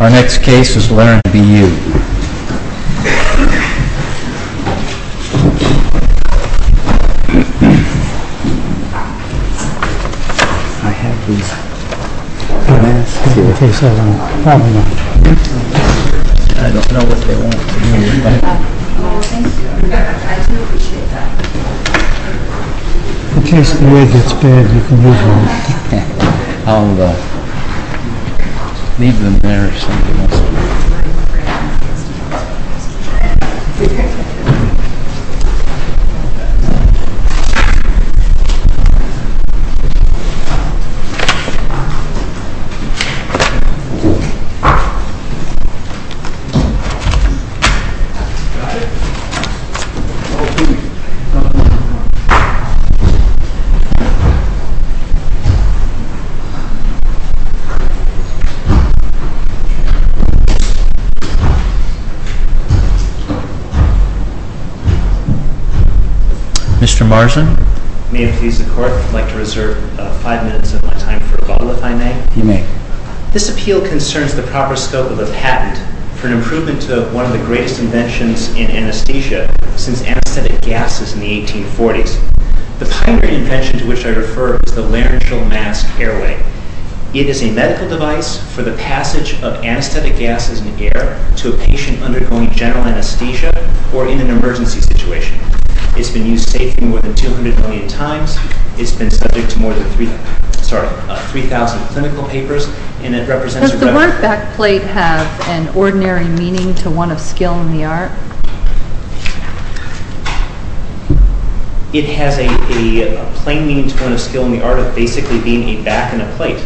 Our next case is LARYNGEAL MASK CO v. AMBU Leave them there if somebody wants them Mr. Marzen May it please the court, I'd like to reserve five minutes of my time for a bottle if I may You may This appeal concerns the proper scope of a patent for an improvement to one of the greatest inventions in anesthesia since anesthetic gases in the 1840s The pioneering invention to which I refer is the Laryngeal Mask Airway It is a medical device for the passage of anesthetic gases in the air to a patient undergoing general anesthesia or in an emergency situation It's been used safely more than 200 million times It's been subject to more than 3,000 clinical papers Does the word backplate have an ordinary meaning to one of skill in the art? It has a plain meaning to one of skill in the art of basically being a back and a plate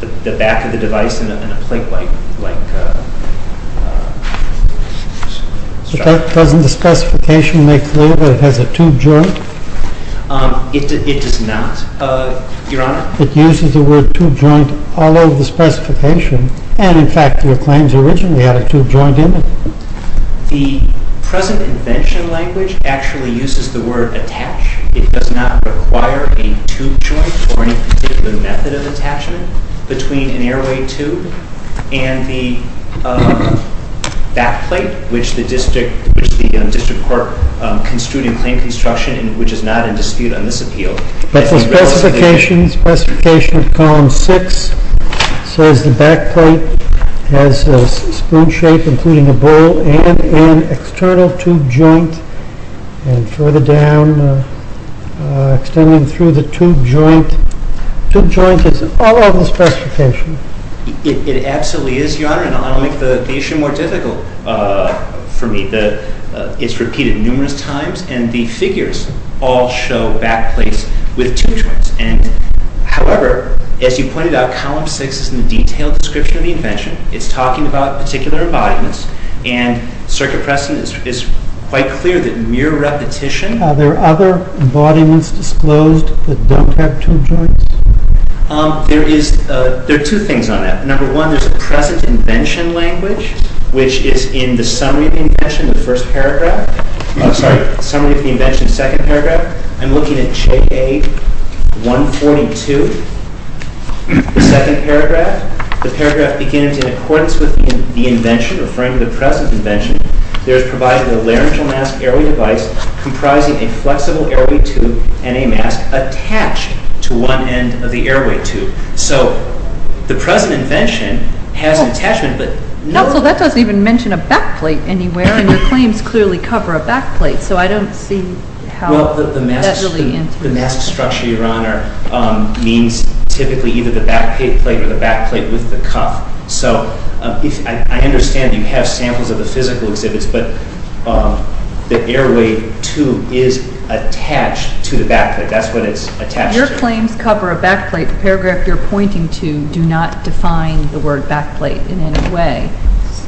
The back of the device and a plate like a Doesn't the specification make clear that it has a tube joint? It does not, your honor It uses the word tube joint all over the specification And in fact your claims originally had a tube joint in it The present invention language actually uses the word attach It does not require a tube joint or any particular method of attachment between an airway tube and the backplate Which the District Court construed in claim construction and which is not in dispute on this appeal But the specification of column 6 says the backplate has a spoon shape including a bowl and an external tube joint And further down extending through the tube joint Tube joint is all over the specification It absolutely is, your honor And I'll make the issue more difficult for me It's repeated numerous times and the figures all show backplates with tube joints However, as you pointed out, column 6 is in the detailed description of the invention It's talking about particular embodiments And circuit precedent is quite clear that mere repetition Are there other embodiments disclosed that don't have tube joints? There are two things on that Number one, there's a present invention language Which is in the summary of the invention, the first paragraph I'm sorry, summary of the invention, second paragraph I'm looking at J.A. 142, the second paragraph The paragraph begins, in accordance with the invention, referring to the present invention There is provided a laryngeal mask airway device comprising a flexible airway tube and a mask attached to one end of the airway tube So, the present invention has an attachment, but... No, so that doesn't even mention a backplate anywhere And your claims clearly cover a backplate So I don't see how... Well, the mask structure, your honor, means typically either the backplate or the backplate with the cuff So, I understand you have samples of the physical exhibits But the airway tube is attached to the backplate That's what it's attached to Your claims cover a backplate, the paragraph you're pointing to Do not define the word backplate in any way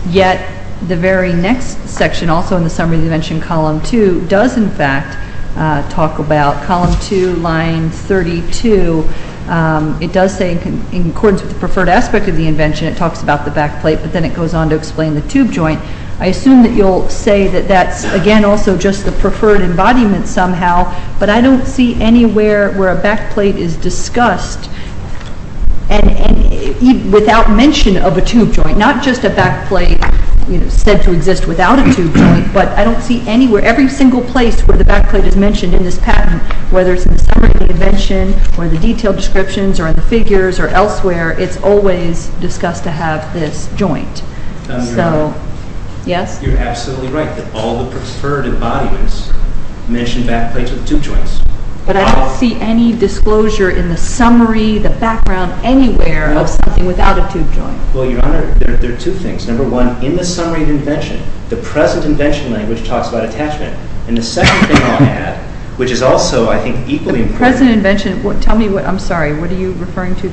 Yet, the very next section, also in the summary of the invention, column 2 Does, in fact, talk about column 2, line 32 It does say, in accordance with the preferred aspect of the invention It talks about the backplate, but then it goes on to explain the tube joint I assume that you'll say that that's, again, also just the preferred embodiment somehow But I don't see anywhere where a backplate is discussed Without mention of a tube joint Not just a backplate, you know, said to exist without a tube joint But I don't see anywhere, every single place where the backplate is mentioned in this patent Whether it's in the summary of the invention, or the detailed descriptions, or in the figures, or elsewhere It's always discussed to have this joint So, yes? You're absolutely right, that all the preferred embodiments mention backplates with tube joints But I don't see any disclosure in the summary, the background, anywhere, of something without a tube joint Well, Your Honor, there are two things Number one, in the summary of the invention, the present invention language talks about attachment And the second thing I'll add, which is also, I think, equally important The present invention, tell me, I'm sorry, what are you referring to? On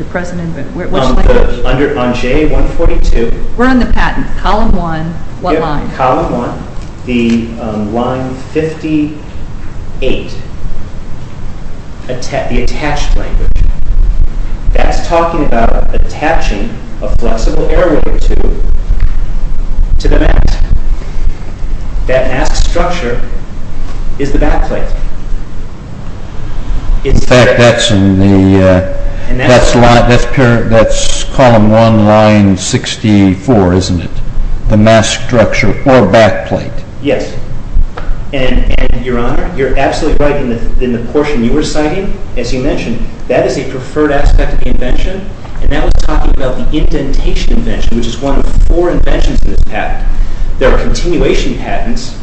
J142 We're on the patent. Column 1, what line? Column 1, the line 58 The attached language That's talking about attaching a flexible airway tube to the mast That mast structure is the backplate In fact, that's column 1, line 64, isn't it? The mast structure, or backplate Yes, and Your Honor, you're absolutely right In the portion you were citing, as you mentioned, that is a preferred aspect of the invention And that was talking about the indentation invention, which is one of four inventions in this patent There are continuation patents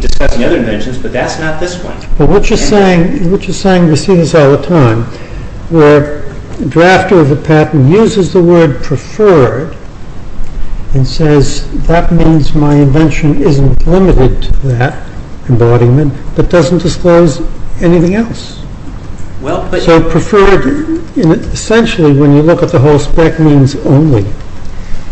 discussing other inventions, but that's not this one But what you're saying, we see this all the time Where a drafter of a patent uses the word preferred And says, that means my invention isn't limited to that embodiment But doesn't disclose anything else So preferred, essentially, when you look at the whole spec, means only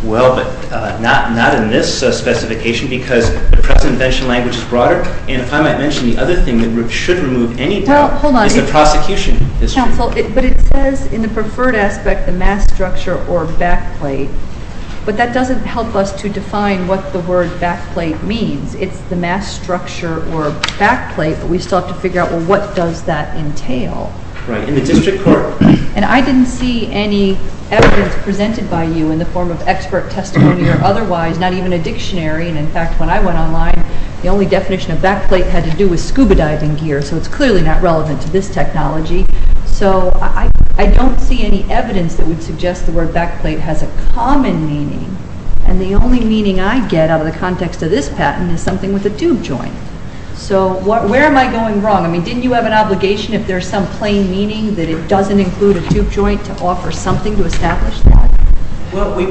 Well, but not in this specification Because the present invention language is broader And if I might mention the other thing that should remove any doubt Well, hold on Is the prosecution history Counsel, but it says in the preferred aspect, the mast structure or backplate But that doesn't help us to define what the word backplate means It's the mast structure or backplate But we still have to figure out, well, what does that entail? Right, in the district court And I didn't see any evidence presented by you in the form of expert testimony Or otherwise, not even a dictionary And in fact, when I went online, the only definition of backplate had to do with scuba diving gear So it's clearly not relevant to this technology So I don't see any evidence that would suggest the word backplate has a common meaning And the only meaning I get out of the context of this patent is something with a tube joint So where am I going wrong? I mean, didn't you have an obligation if there's some plain meaning That it doesn't include a tube joint to offer something to establish that? Well, we...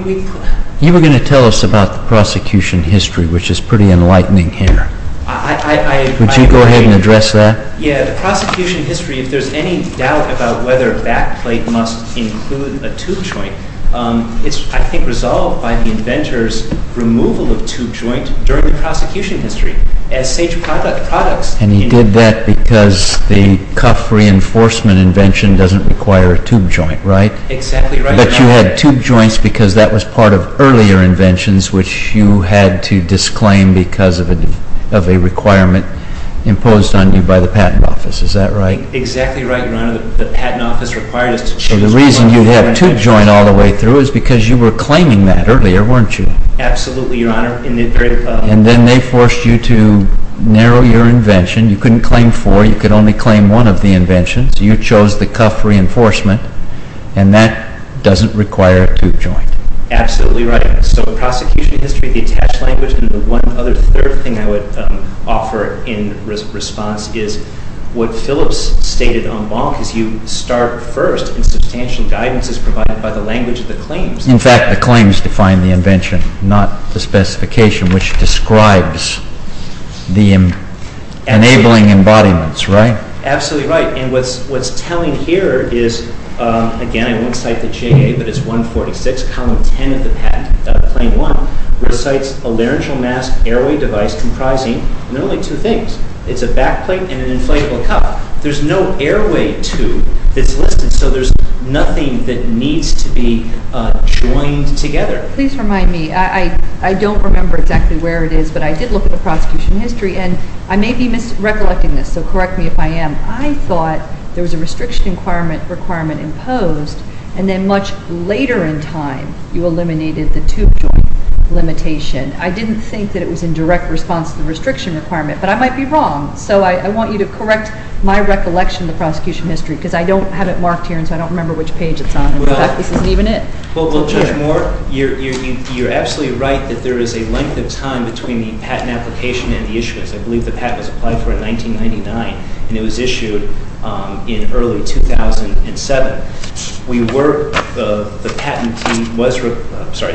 You were going to tell us about the prosecution history Which is pretty enlightening here I... Would you go ahead and address that? Yeah, the prosecution history If there's any doubt about whether backplate must include a tube joint It's, I think, resolved by the inventor's removal of tube joint during the prosecution history And he did that because the cuff reinforcement invention doesn't require a tube joint, right? Exactly right But you had tube joints because that was part of earlier inventions Which you had to disclaim because of a requirement imposed on you by the patent office, is that right? Exactly right, your honor The patent office required us to... So the reason you have tube joint all the way through is because you were claiming that earlier, weren't you? Absolutely, your honor And then they forced you to narrow your invention You couldn't claim four, you could only claim one of the inventions You chose the cuff reinforcement And that doesn't require a tube joint Absolutely right So the prosecution history, the attached language, and the one other third thing I would offer in response is What Phillips stated on Bonk is you start first in substantial guidance is provided by the language of the claims In fact, the claims define the invention, not the specification which describes the enabling embodiments, right? Absolutely right And what's telling here is, again I won't cite the JA, but it's 146, column 10 of the patent, claim one Which cites a laryngeal mask airway device comprising, and there are only two things It's a back plate and an inflatable cuff There's no airway tube that's listed, so there's nothing that needs to be joined together Please remind me, I don't remember exactly where it is, but I did look at the prosecution history And I may be recollecting this, so correct me if I am I thought there was a restriction requirement imposed, and then much later in time you eliminated the tube joint limitation I didn't think that it was in direct response to the restriction requirement, but I might be wrong So I want you to correct my recollection of the prosecution history Because I don't have it marked here, and so I don't remember which page it's on In fact, this isn't even it Well Judge Moore, you're absolutely right that there is a length of time between the patent application and the issuance I believe the patent was applied for in 1999, and it was issued in early 2007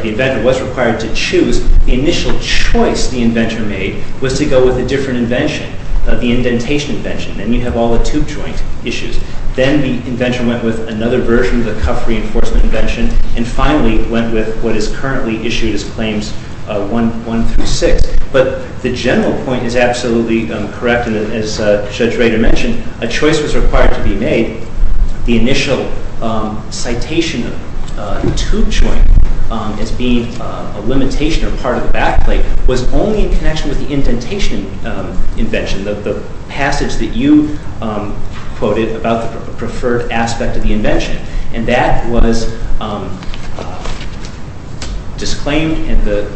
The inventor was required to choose The initial choice the inventor made was to go with a different invention The indentation invention, and you have all the tube joint issues Then the invention went with another version of the cuff reinforcement invention And finally went with what is currently issued as Claims 1 through 6 But the general point is absolutely correct As Judge Rader mentioned, a choice was required to be made The initial citation of the tube joint as being a limitation or part of the back plate Was only in connection with the indentation invention The passage that you quoted about the preferred aspect of the invention And that was disclaimed, and the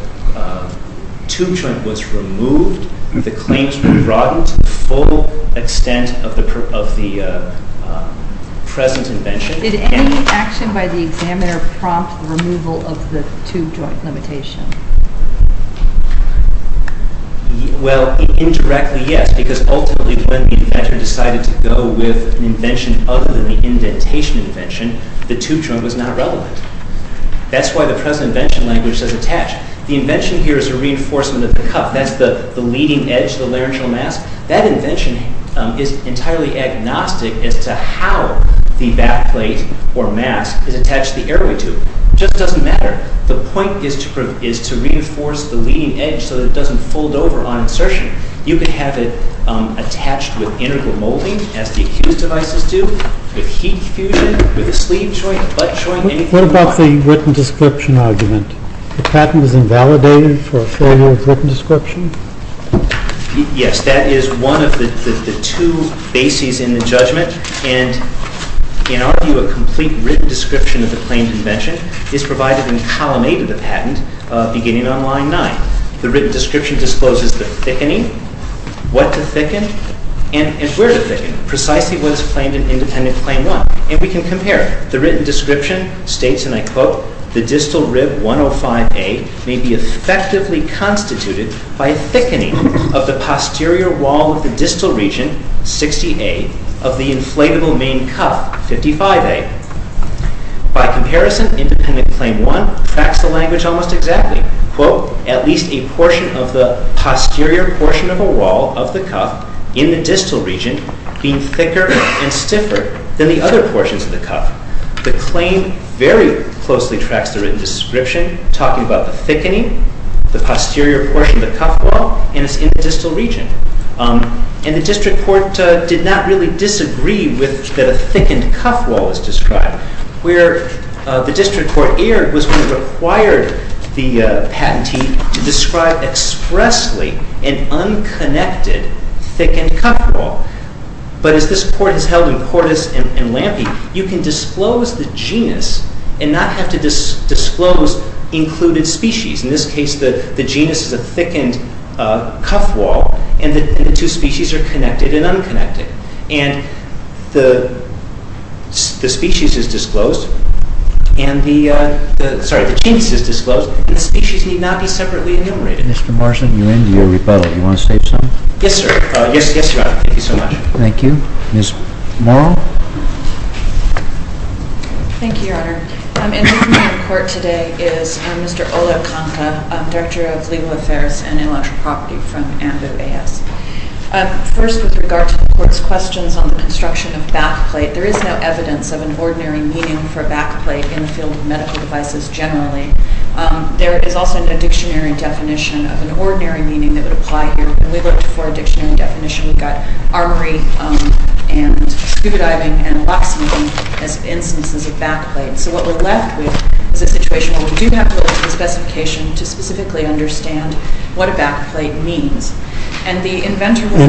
tube joint was removed The claims were broadened to the full extent of the present invention Did any action by the examiner prompt the removal of the tube joint limitation? Well, indirectly yes, because ultimately when the inventor decided to go with an invention other than the indentation invention The tube joint was not relevant That's why the present invention language says attached The invention here is a reinforcement of the cuff That's the leading edge, the laryngeal mask That invention is entirely agnostic as to how the back plate or mask is attached to the airway tube It just doesn't matter The point is to reinforce the leading edge so that it doesn't fold over on insertion You can have it attached with integral molding as the accused devices do With heat fusion, with a sleeve joint, butt joint, anything you want What about the written description argument? The patent is invalidated for a failure of written description? Yes, that is one of the two bases in the judgment And in our view, a complete written description of the claimed invention Is provided in column 8 of the patent, beginning on line 9 The written description discloses the thickening, what to thicken, and where to thicken Precisely what is claimed in independent claim 1 And we can compare The written description states, and I quote The distal rib 105A may be effectively constituted by thickening of the posterior wall of the distal region, 60A Of the inflatable main cuff, 55A By comparison, independent claim 1 tracks the language almost exactly Quote, at least a portion of the posterior portion of a wall of the cuff in the distal region Being thicker and stiffer than the other portions of the cuff The claim very closely tracks the written description Talking about the thickening, the posterior portion of the cuff wall And it's in the distal region And the district court did not really disagree that a thickened cuff wall was described Where the district court erred was when it required the patentee To describe expressly an unconnected thickened cuff wall But as this court has held in Portis and Lampe You can disclose the genus and not have to disclose included species In this case the genus is a thickened cuff wall And the two species are connected and unconnected And the genus is disclosed And the species need not be separately enumerated Mr. Marsden, you're into your rebuttal. You want to state something? Yes, sir. Yes, Your Honor. Thank you so much Thank you. Ms. Morrow? Thank you, Your Honor And with me in court today is Mr. Oluwakunka Director of Legal Affairs and Intellectual Property from ANVU-AS First, with regard to the court's questions on the construction of backplate There is no evidence of an ordinary meaning for backplate In the field of medical devices generally There is also no dictionary definition of an ordinary meaning that would apply here When we looked for a dictionary definition We got armory and scuba diving and locksmithing as instances of backplate So what we're left with is a situation where we do have the specification To specifically understand what a backplate means And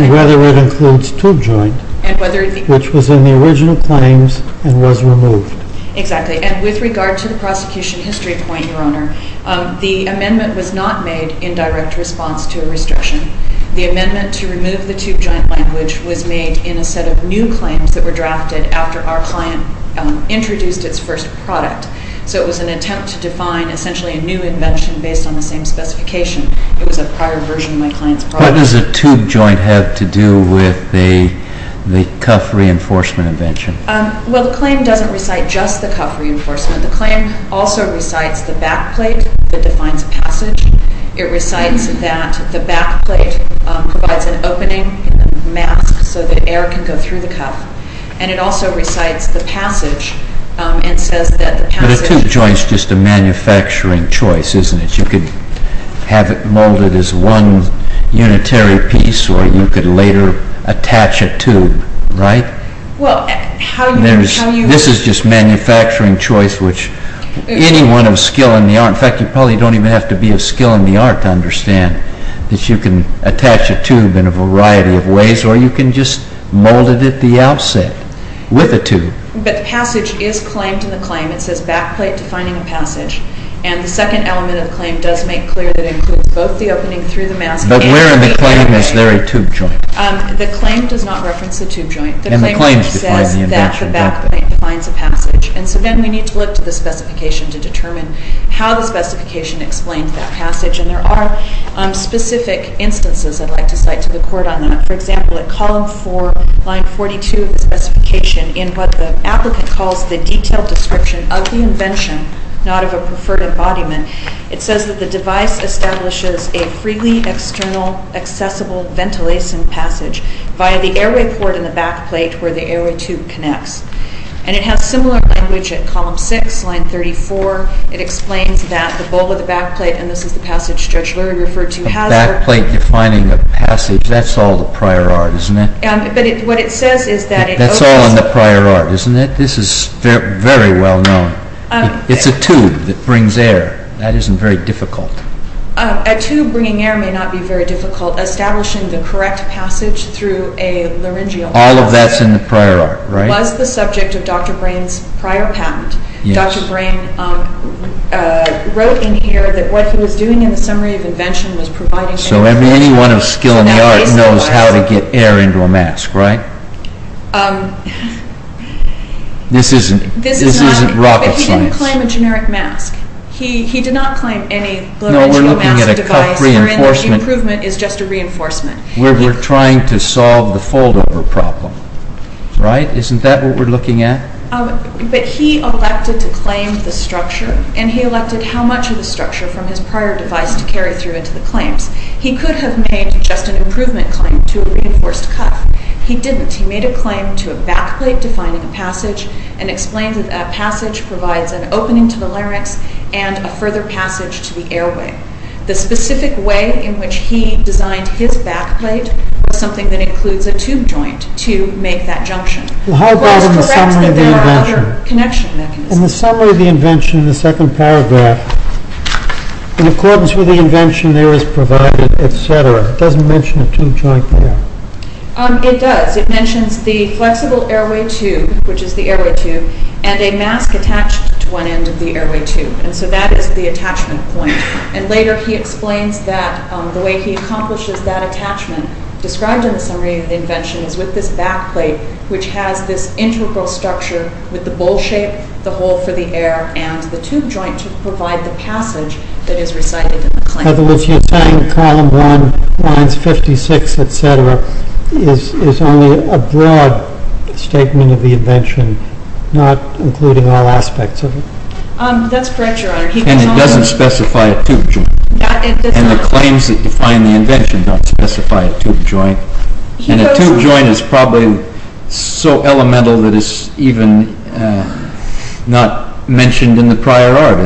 whether it includes tube joint Which was in the original claims and was removed Exactly. And with regard to the prosecution history point, Your Honor The amendment was not made in direct response to a restriction The amendment to remove the tube joint language Was made in a set of new claims that were drafted After our client introduced its first product So it was an attempt to define essentially a new invention Based on the same specification It was a prior version of my client's product What does a tube joint have to do with the cuff reinforcement invention? Well, the claim doesn't recite just the cuff reinforcement The claim also recites the backplate that defines passage It recites that the backplate provides an opening And a mask so that air can go through the cuff And it also recites the passage and says that the passage But a tube joint is just a manufacturing choice, isn't it? You could have it molded as one unitary piece Or you could later attach a tube, right? This is just manufacturing choice Which anyone of skill in the art In fact, you probably don't even have to be of skill in the art To understand that you can attach a tube in a variety of ways Or you can just mold it at the outset with a tube It says backplate defining a passage And the second element of the claim does make clear That it includes both the opening through the mask But where in the claim is there a tube joint? The claim does not reference the tube joint The claim just says that the backplate defines a passage And so then we need to look to the specification To determine how the specification explains that passage And there are specific instances I'd like to cite to the court on that For example, at column 4, line 42 of the specification In what the applicant calls the detailed description of the invention Not of a preferred embodiment It says that the device establishes a freely external accessible ventilation passage Via the airway port in the backplate where the airway tube connects And it has similar language at column 6, line 34 It explains that the bowl of the backplate And this is the passage Judge Lurie referred to A backplate defining a passage That's all the prior art, isn't it? But what it says is that it opens That's all in the prior art, isn't it? This is very well known It's a tube that brings air That isn't very difficult A tube bringing air may not be very difficult Establishing the correct passage through a laryngeal mask All of that's in the prior art, right? Was the subject of Dr. Brain's prior patent Dr. Brain wrote in here that what he was doing in the summary of invention Was providing information So anyone of skill in the art knows how to get air into a mask, right? This isn't rocket science But he didn't claim a generic mask He did not claim any laryngeal mask device No, we're looking at a cuff reinforcement Where an improvement is just a reinforcement We're trying to solve the fold-over problem, right? Isn't that what we're looking at? But he elected to claim the structure And he elected how much of the structure From his prior device to carry through into the claims He could have made just an improvement claim to a reinforced cuff He didn't He made a claim to a backplate defining a passage And explained that a passage provides an opening to the larynx And a further passage to the airway The specific way in which he designed his backplate Was something that includes a tube joint to make that junction How about in the summary of the invention? There are other connection mechanisms In the summary of the invention, the second paragraph In accordance with the invention there is provided, etc. It doesn't mention a tube joint there It does, it mentions the flexible airway tube Which is the airway tube And a mask attached to one end of the airway tube And so that is the attachment point And later he explains that The way he accomplishes that attachment Described in the summary of the invention Is with this backplate Which has this integral structure With the bowl shape, the hole for the air And the tube joint to provide the passage That is recited in the claim In other words, you're saying column 1, lines 56, etc. Is only a broad statement of the invention Not including all aspects of it That's correct, your honor And it doesn't specify a tube joint And the claims that define the invention Don't specify a tube joint And a tube joint is probably so elemental It's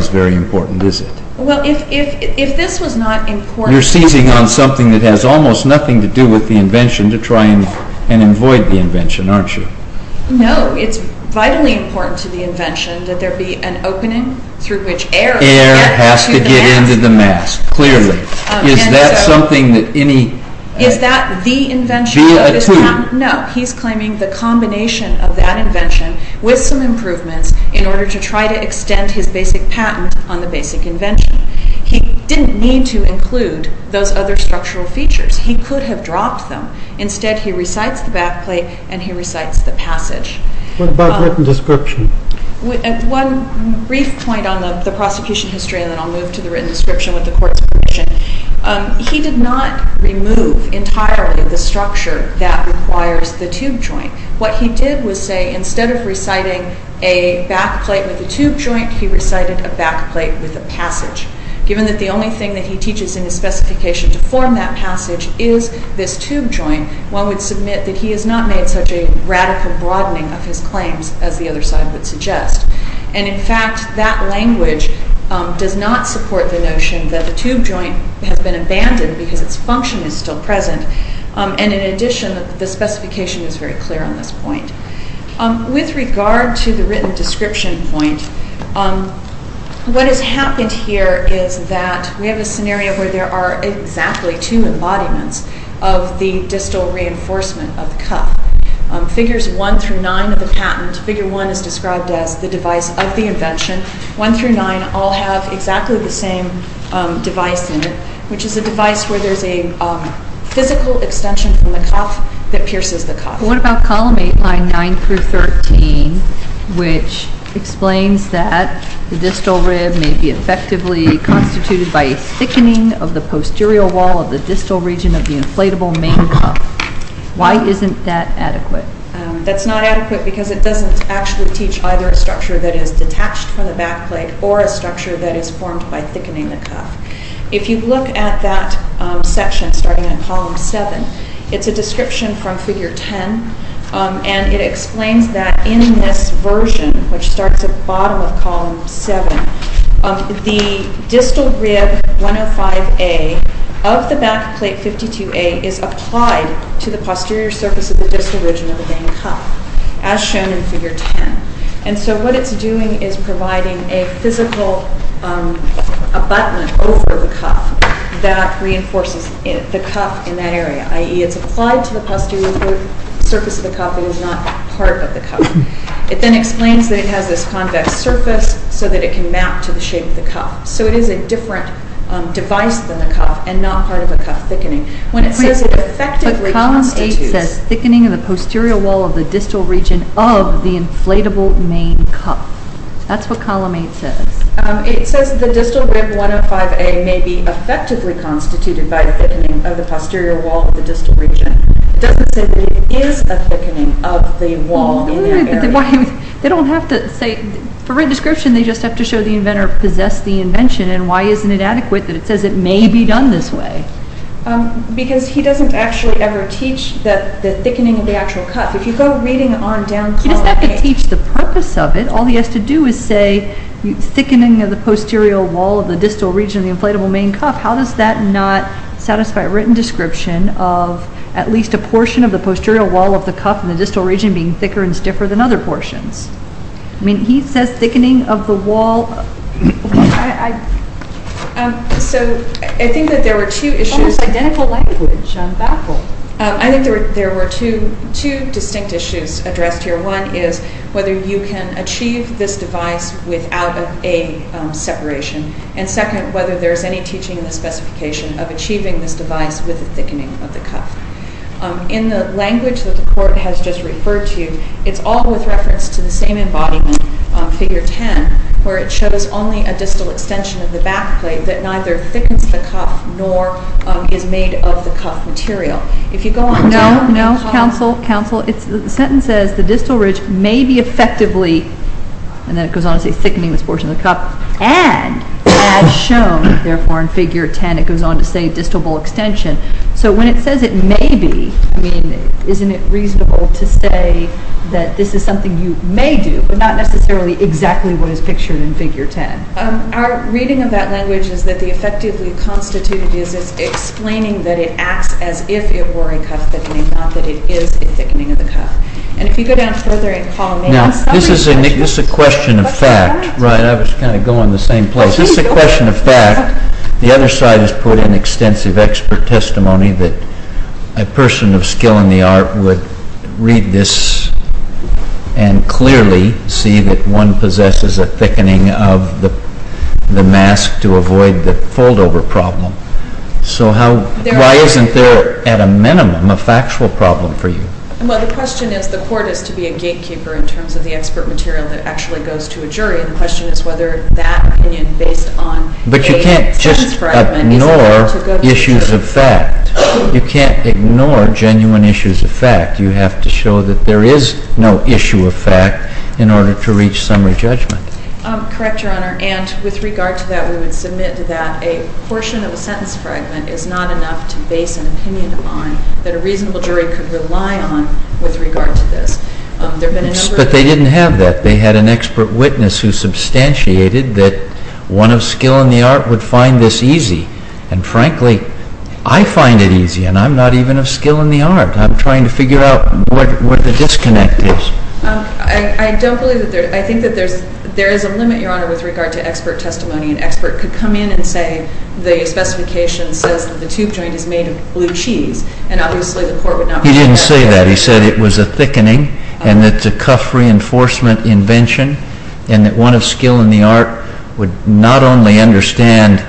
very important, is it? Well, if this was not important You're seizing on something that has Almost nothing to do with the invention To try and avoid the invention, aren't you? No, it's vitally important to the invention That there be an opening through which air Air has to get into the mask, clearly Is that something that any Is that the invention of this patent? No, he's claiming the combination of that invention With some improvements In order to try to extend his basic patent On the basic invention He didn't need to include Those other structural features He could have dropped them Instead, he recites the backplate And he recites the passage What about written description? One brief point on the prosecution history And then I'll move to the written description With the court's permission He did not remove entirely the structure That requires the tube joint What he did was say Instead of reciting a backplate with a tube joint He recited a backplate with a passage Given that the only thing that he teaches In his specification to form that passage Is this tube joint One would submit that he has not made Such a radical broadening of his claims As the other side would suggest And in fact, that language Does not support the notion That the tube joint has been abandoned Because its function is still present And in addition, the specification Is very clear on this point With regard to the written description point What has happened here is that We have a scenario where there are Exactly two embodiments Of the distal reinforcement of the cuff Figures 1 through 9 of the patent Figure 1 is described as The device of the invention 1 through 9 all have Exactly the same device in it Which is a device where there is A physical extension from the cuff That pierces the cuff What about column 8, line 9 through 13 Which explains that The distal rib may be Effectively constituted by A thickening of the posterior wall Of the distal region Of the inflatable main cuff Why isn't that adequate? That's not adequate because It doesn't actually teach Either a structure that is Detached from the backplate Or a structure that is formed By thickening the cuff If you look at that section Starting in column 7 It's a description from figure 10 And it explains that In this version Which starts at the bottom of column 7 The distal rib 105A Of the backplate 52A Is applied to the posterior surface Of the distal region of the main cuff As shown in figure 10 And so what it's doing Is providing a physical Abutment over the cuff That reinforces the cuff in that area I.e. it's applied to the posterior Surface of the cuff But it's not part of the cuff It then explains that It has this convex surface So that it can map To the shape of the cuff So it is a different device Than the cuff And not part of the cuff thickening When it says It effectively constitutes But column 8 says Thickening of the posterior wall Of the distal region Of the inflatable main cuff That's what column 8 says It says the distal rib 105A May be effectively constituted By thickening of the posterior wall Of the distal region It doesn't say That it is a thickening Of the wall in that area They don't have to say For written description They just have to show The inventor possessed the invention And why isn't it adequate That it says It may be done this way Because he doesn't actually ever teach The thickening of the actual cuff If you go reading on down column 8 He doesn't have to teach The purpose of it All he has to do is say Thickening of the posterior wall Of the distal region Of the inflatable main cuff How does that not satisfy Written description Of at least a portion Of the posterior wall Of the cuff In the distal region Being thicker and stiffer Than other portions I mean he says thickening Of the wall So I think that there were two issues Almost identical language I think there were two distinct issues Addressed here One is whether you can achieve This device without a separation And second whether there is any teaching In the specification Of achieving this device With the thickening of the cuff In the language That the court has just referred to It's all with reference To the same embodiment On figure 10 Where it shows only A distal extension Of the back plate That neither thickens the cuff Nor is made of the cuff material If you go on down No, no counsel Counsel The sentence says The distal ridge May be effectively And then it goes on to say Thickening this portion of the cuff And as shown Therefore in figure 10 It goes on to say Distal bull extension So when it says it may be I mean isn't it reasonable To say that this is something You may do But not necessarily Exactly what is pictured In figure 10 Our reading of that language Is that the effectively Constituted is explaining That it acts as if It were a cuff thickening Not that it is A thickening of the cuff And if you go down further And call me Now this is a question of fact Right I was kind of Going the same place This is a question of fact The other side has put An extensive expert testimony That a person of skill in the art Would read this And clearly see that One possesses a thickening Of the mask To avoid the fold over problem So how Why isn't there At a minimum A factual problem for you Well the question is The court is to be a gatekeeper In terms of the expert material That actually goes to a jury And the question is Whether that opinion Based on But you can't just Ignore Issues of fact You can't ignore Genuine issues of fact You have to show That there is No issue of fact In order to reach Summary judgment Correct your honor And with regard to that We would submit to that A portion of a sentence fragment Is not enough To base an opinion on Could rely on With regard to this But they didn't have that They had an expert witness Who substantiated That one of skill in the art Would find this easy And frankly I find it easy And I'm not even Of skill in the art I'm trying to figure out What the disconnect is I don't believe that there I think that there's There is a limit your honor With regard to expert testimony An expert could come in And say The specification says That the tube joint Is made of blue cheese And obviously The court would not He didn't say that He said it was a thickening And that it's a cuff Reinforcement invention And that one of skill in the art Would not only understand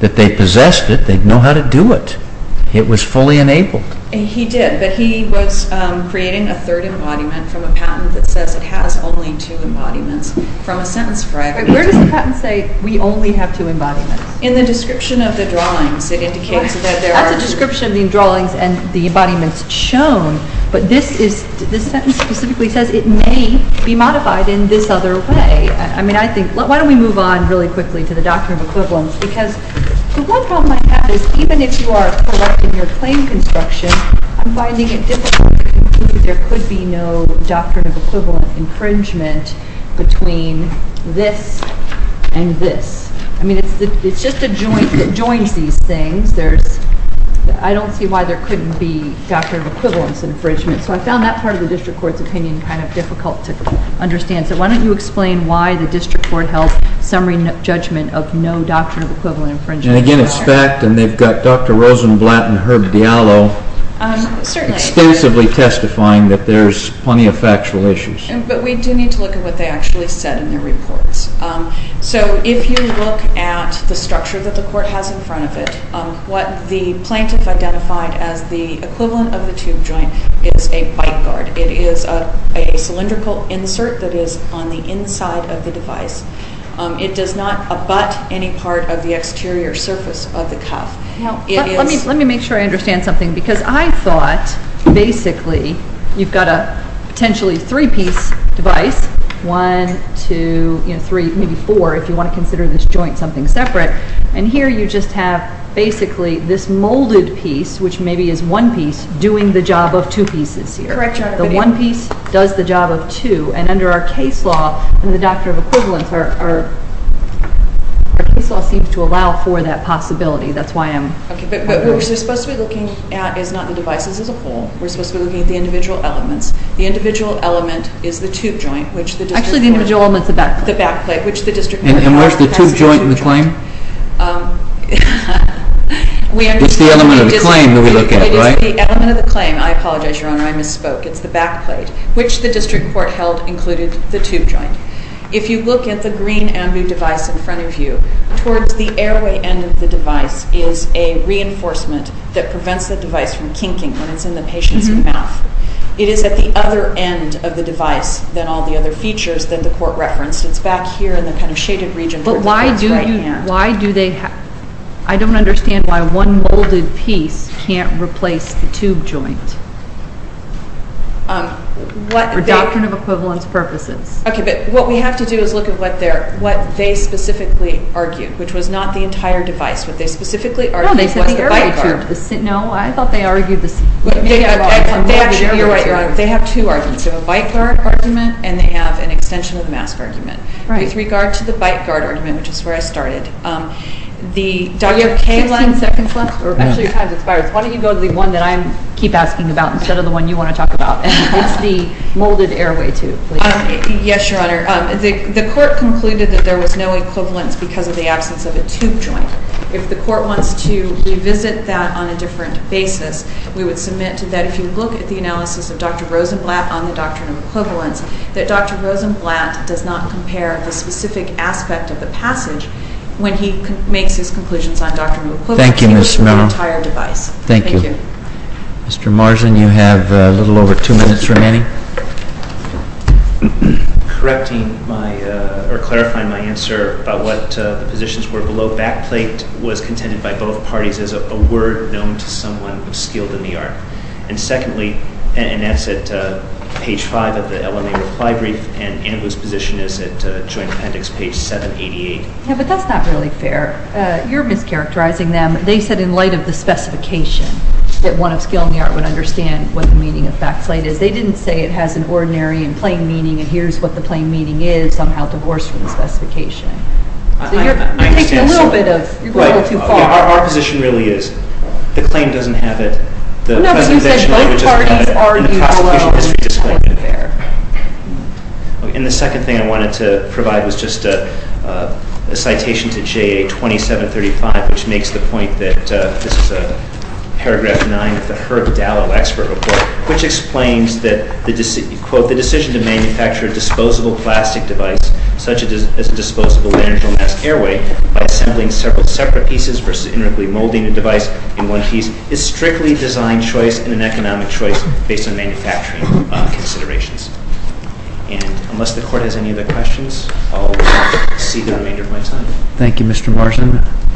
That they possessed it They'd know how to do it It was fully enabled He did But he was creating A third embodiment From a patent that says It has only two embodiments From a sentence fragment Where does the patent say We only have two embodiments In the description of the drawings It indicates that there are That's a description of the drawings And the embodiments shown But this is This sentence specifically says It may be modified In this other way I mean I think Why don't we move on Really quickly To the doctrine of equivalence Because the one problem I have is Even if you are correct In your claim construction I'm finding it difficult To conclude There could be no Doctrine of equivalent Infringement Between this And this I mean it's just a joint That joins these things There's I don't see why There couldn't be Doctrine of equivalence Infringement So I found that part Of the district court's opinion Kind of difficult to understand So why don't you explain Why the district court Held summary judgment Of no doctrine Of equivalent Infringement And again it's fact And they've got Dr. Rosenblatt And Herb Diallo Certainly Extensively testifying That there's Plenty of factual issues But we do need to look At what they actually said In their reports So if you look At the structure What the plaintiff Identified as the equivalent Of the tube joint Is a bite guard It is a cylindrical insert That is on the inside Of the tube joint And it is It does not Abut any part Of the exterior Surface of the cuff It is Let me make sure I understand something Because I thought Basically You've got a Potentially three piece Device One Two Three Maybe four If you want to consider This joint Something separate And here You just have Basically This molded piece Which maybe is one piece Doing the job Of two pieces here The one piece Does the job Of two And under our Case law In the Doctrine of equivalence Our case law Seems to allow For that possibility That is why I am But what we are Supposed to be Looking at Is not the devices As a whole We are supposed To be looking At the individual Elements The individual Element is the Tube joint Which the District And where is The tube joint In the claim It is the element Of the claim I apologize Your honor I misspoke It is the back Plate Which the District Court Held Included The tube Joint If you look At the Green Ambu Device In front Of you Towards the Airway End Of the Device Is a Reinforcement That prevents The device From kinking When it is In the Patient's Mouth It is At the Other end Of the Device Than all The other Features That the Court Referenced It is Back here In the Shaded Region But why Do they I don't Understand Why one Molded Piece Can't Replace The tube Joint For Doctrine Of Equivalence Purposes Okay But what We have To do Is look At what They Specifically Argued Which was Not the Entire Device No I Thought They Argued They Have Two Arguments A One Is the Molded Airway Tube Yes Your Honor The Court Concluded That there Was no Equivalence Because of The Absence Of A Tube Joint If The Court Wants To Revisit That On A Joint Appendix Page 788 But that's Not really Fair They Said In Light Of The Specification That One Of The Joint Appendix Was Contended By Both Parties And The Court Concluded Both Parties And The Court Concluded That The Joint Appendix Was Contended By Both Parties And The Court Concluded That The Joint Appendix Was Contended By Parties And The Court Concluded That One Of The Joint Appendix Was Contended By Both Parties And The Court Concluded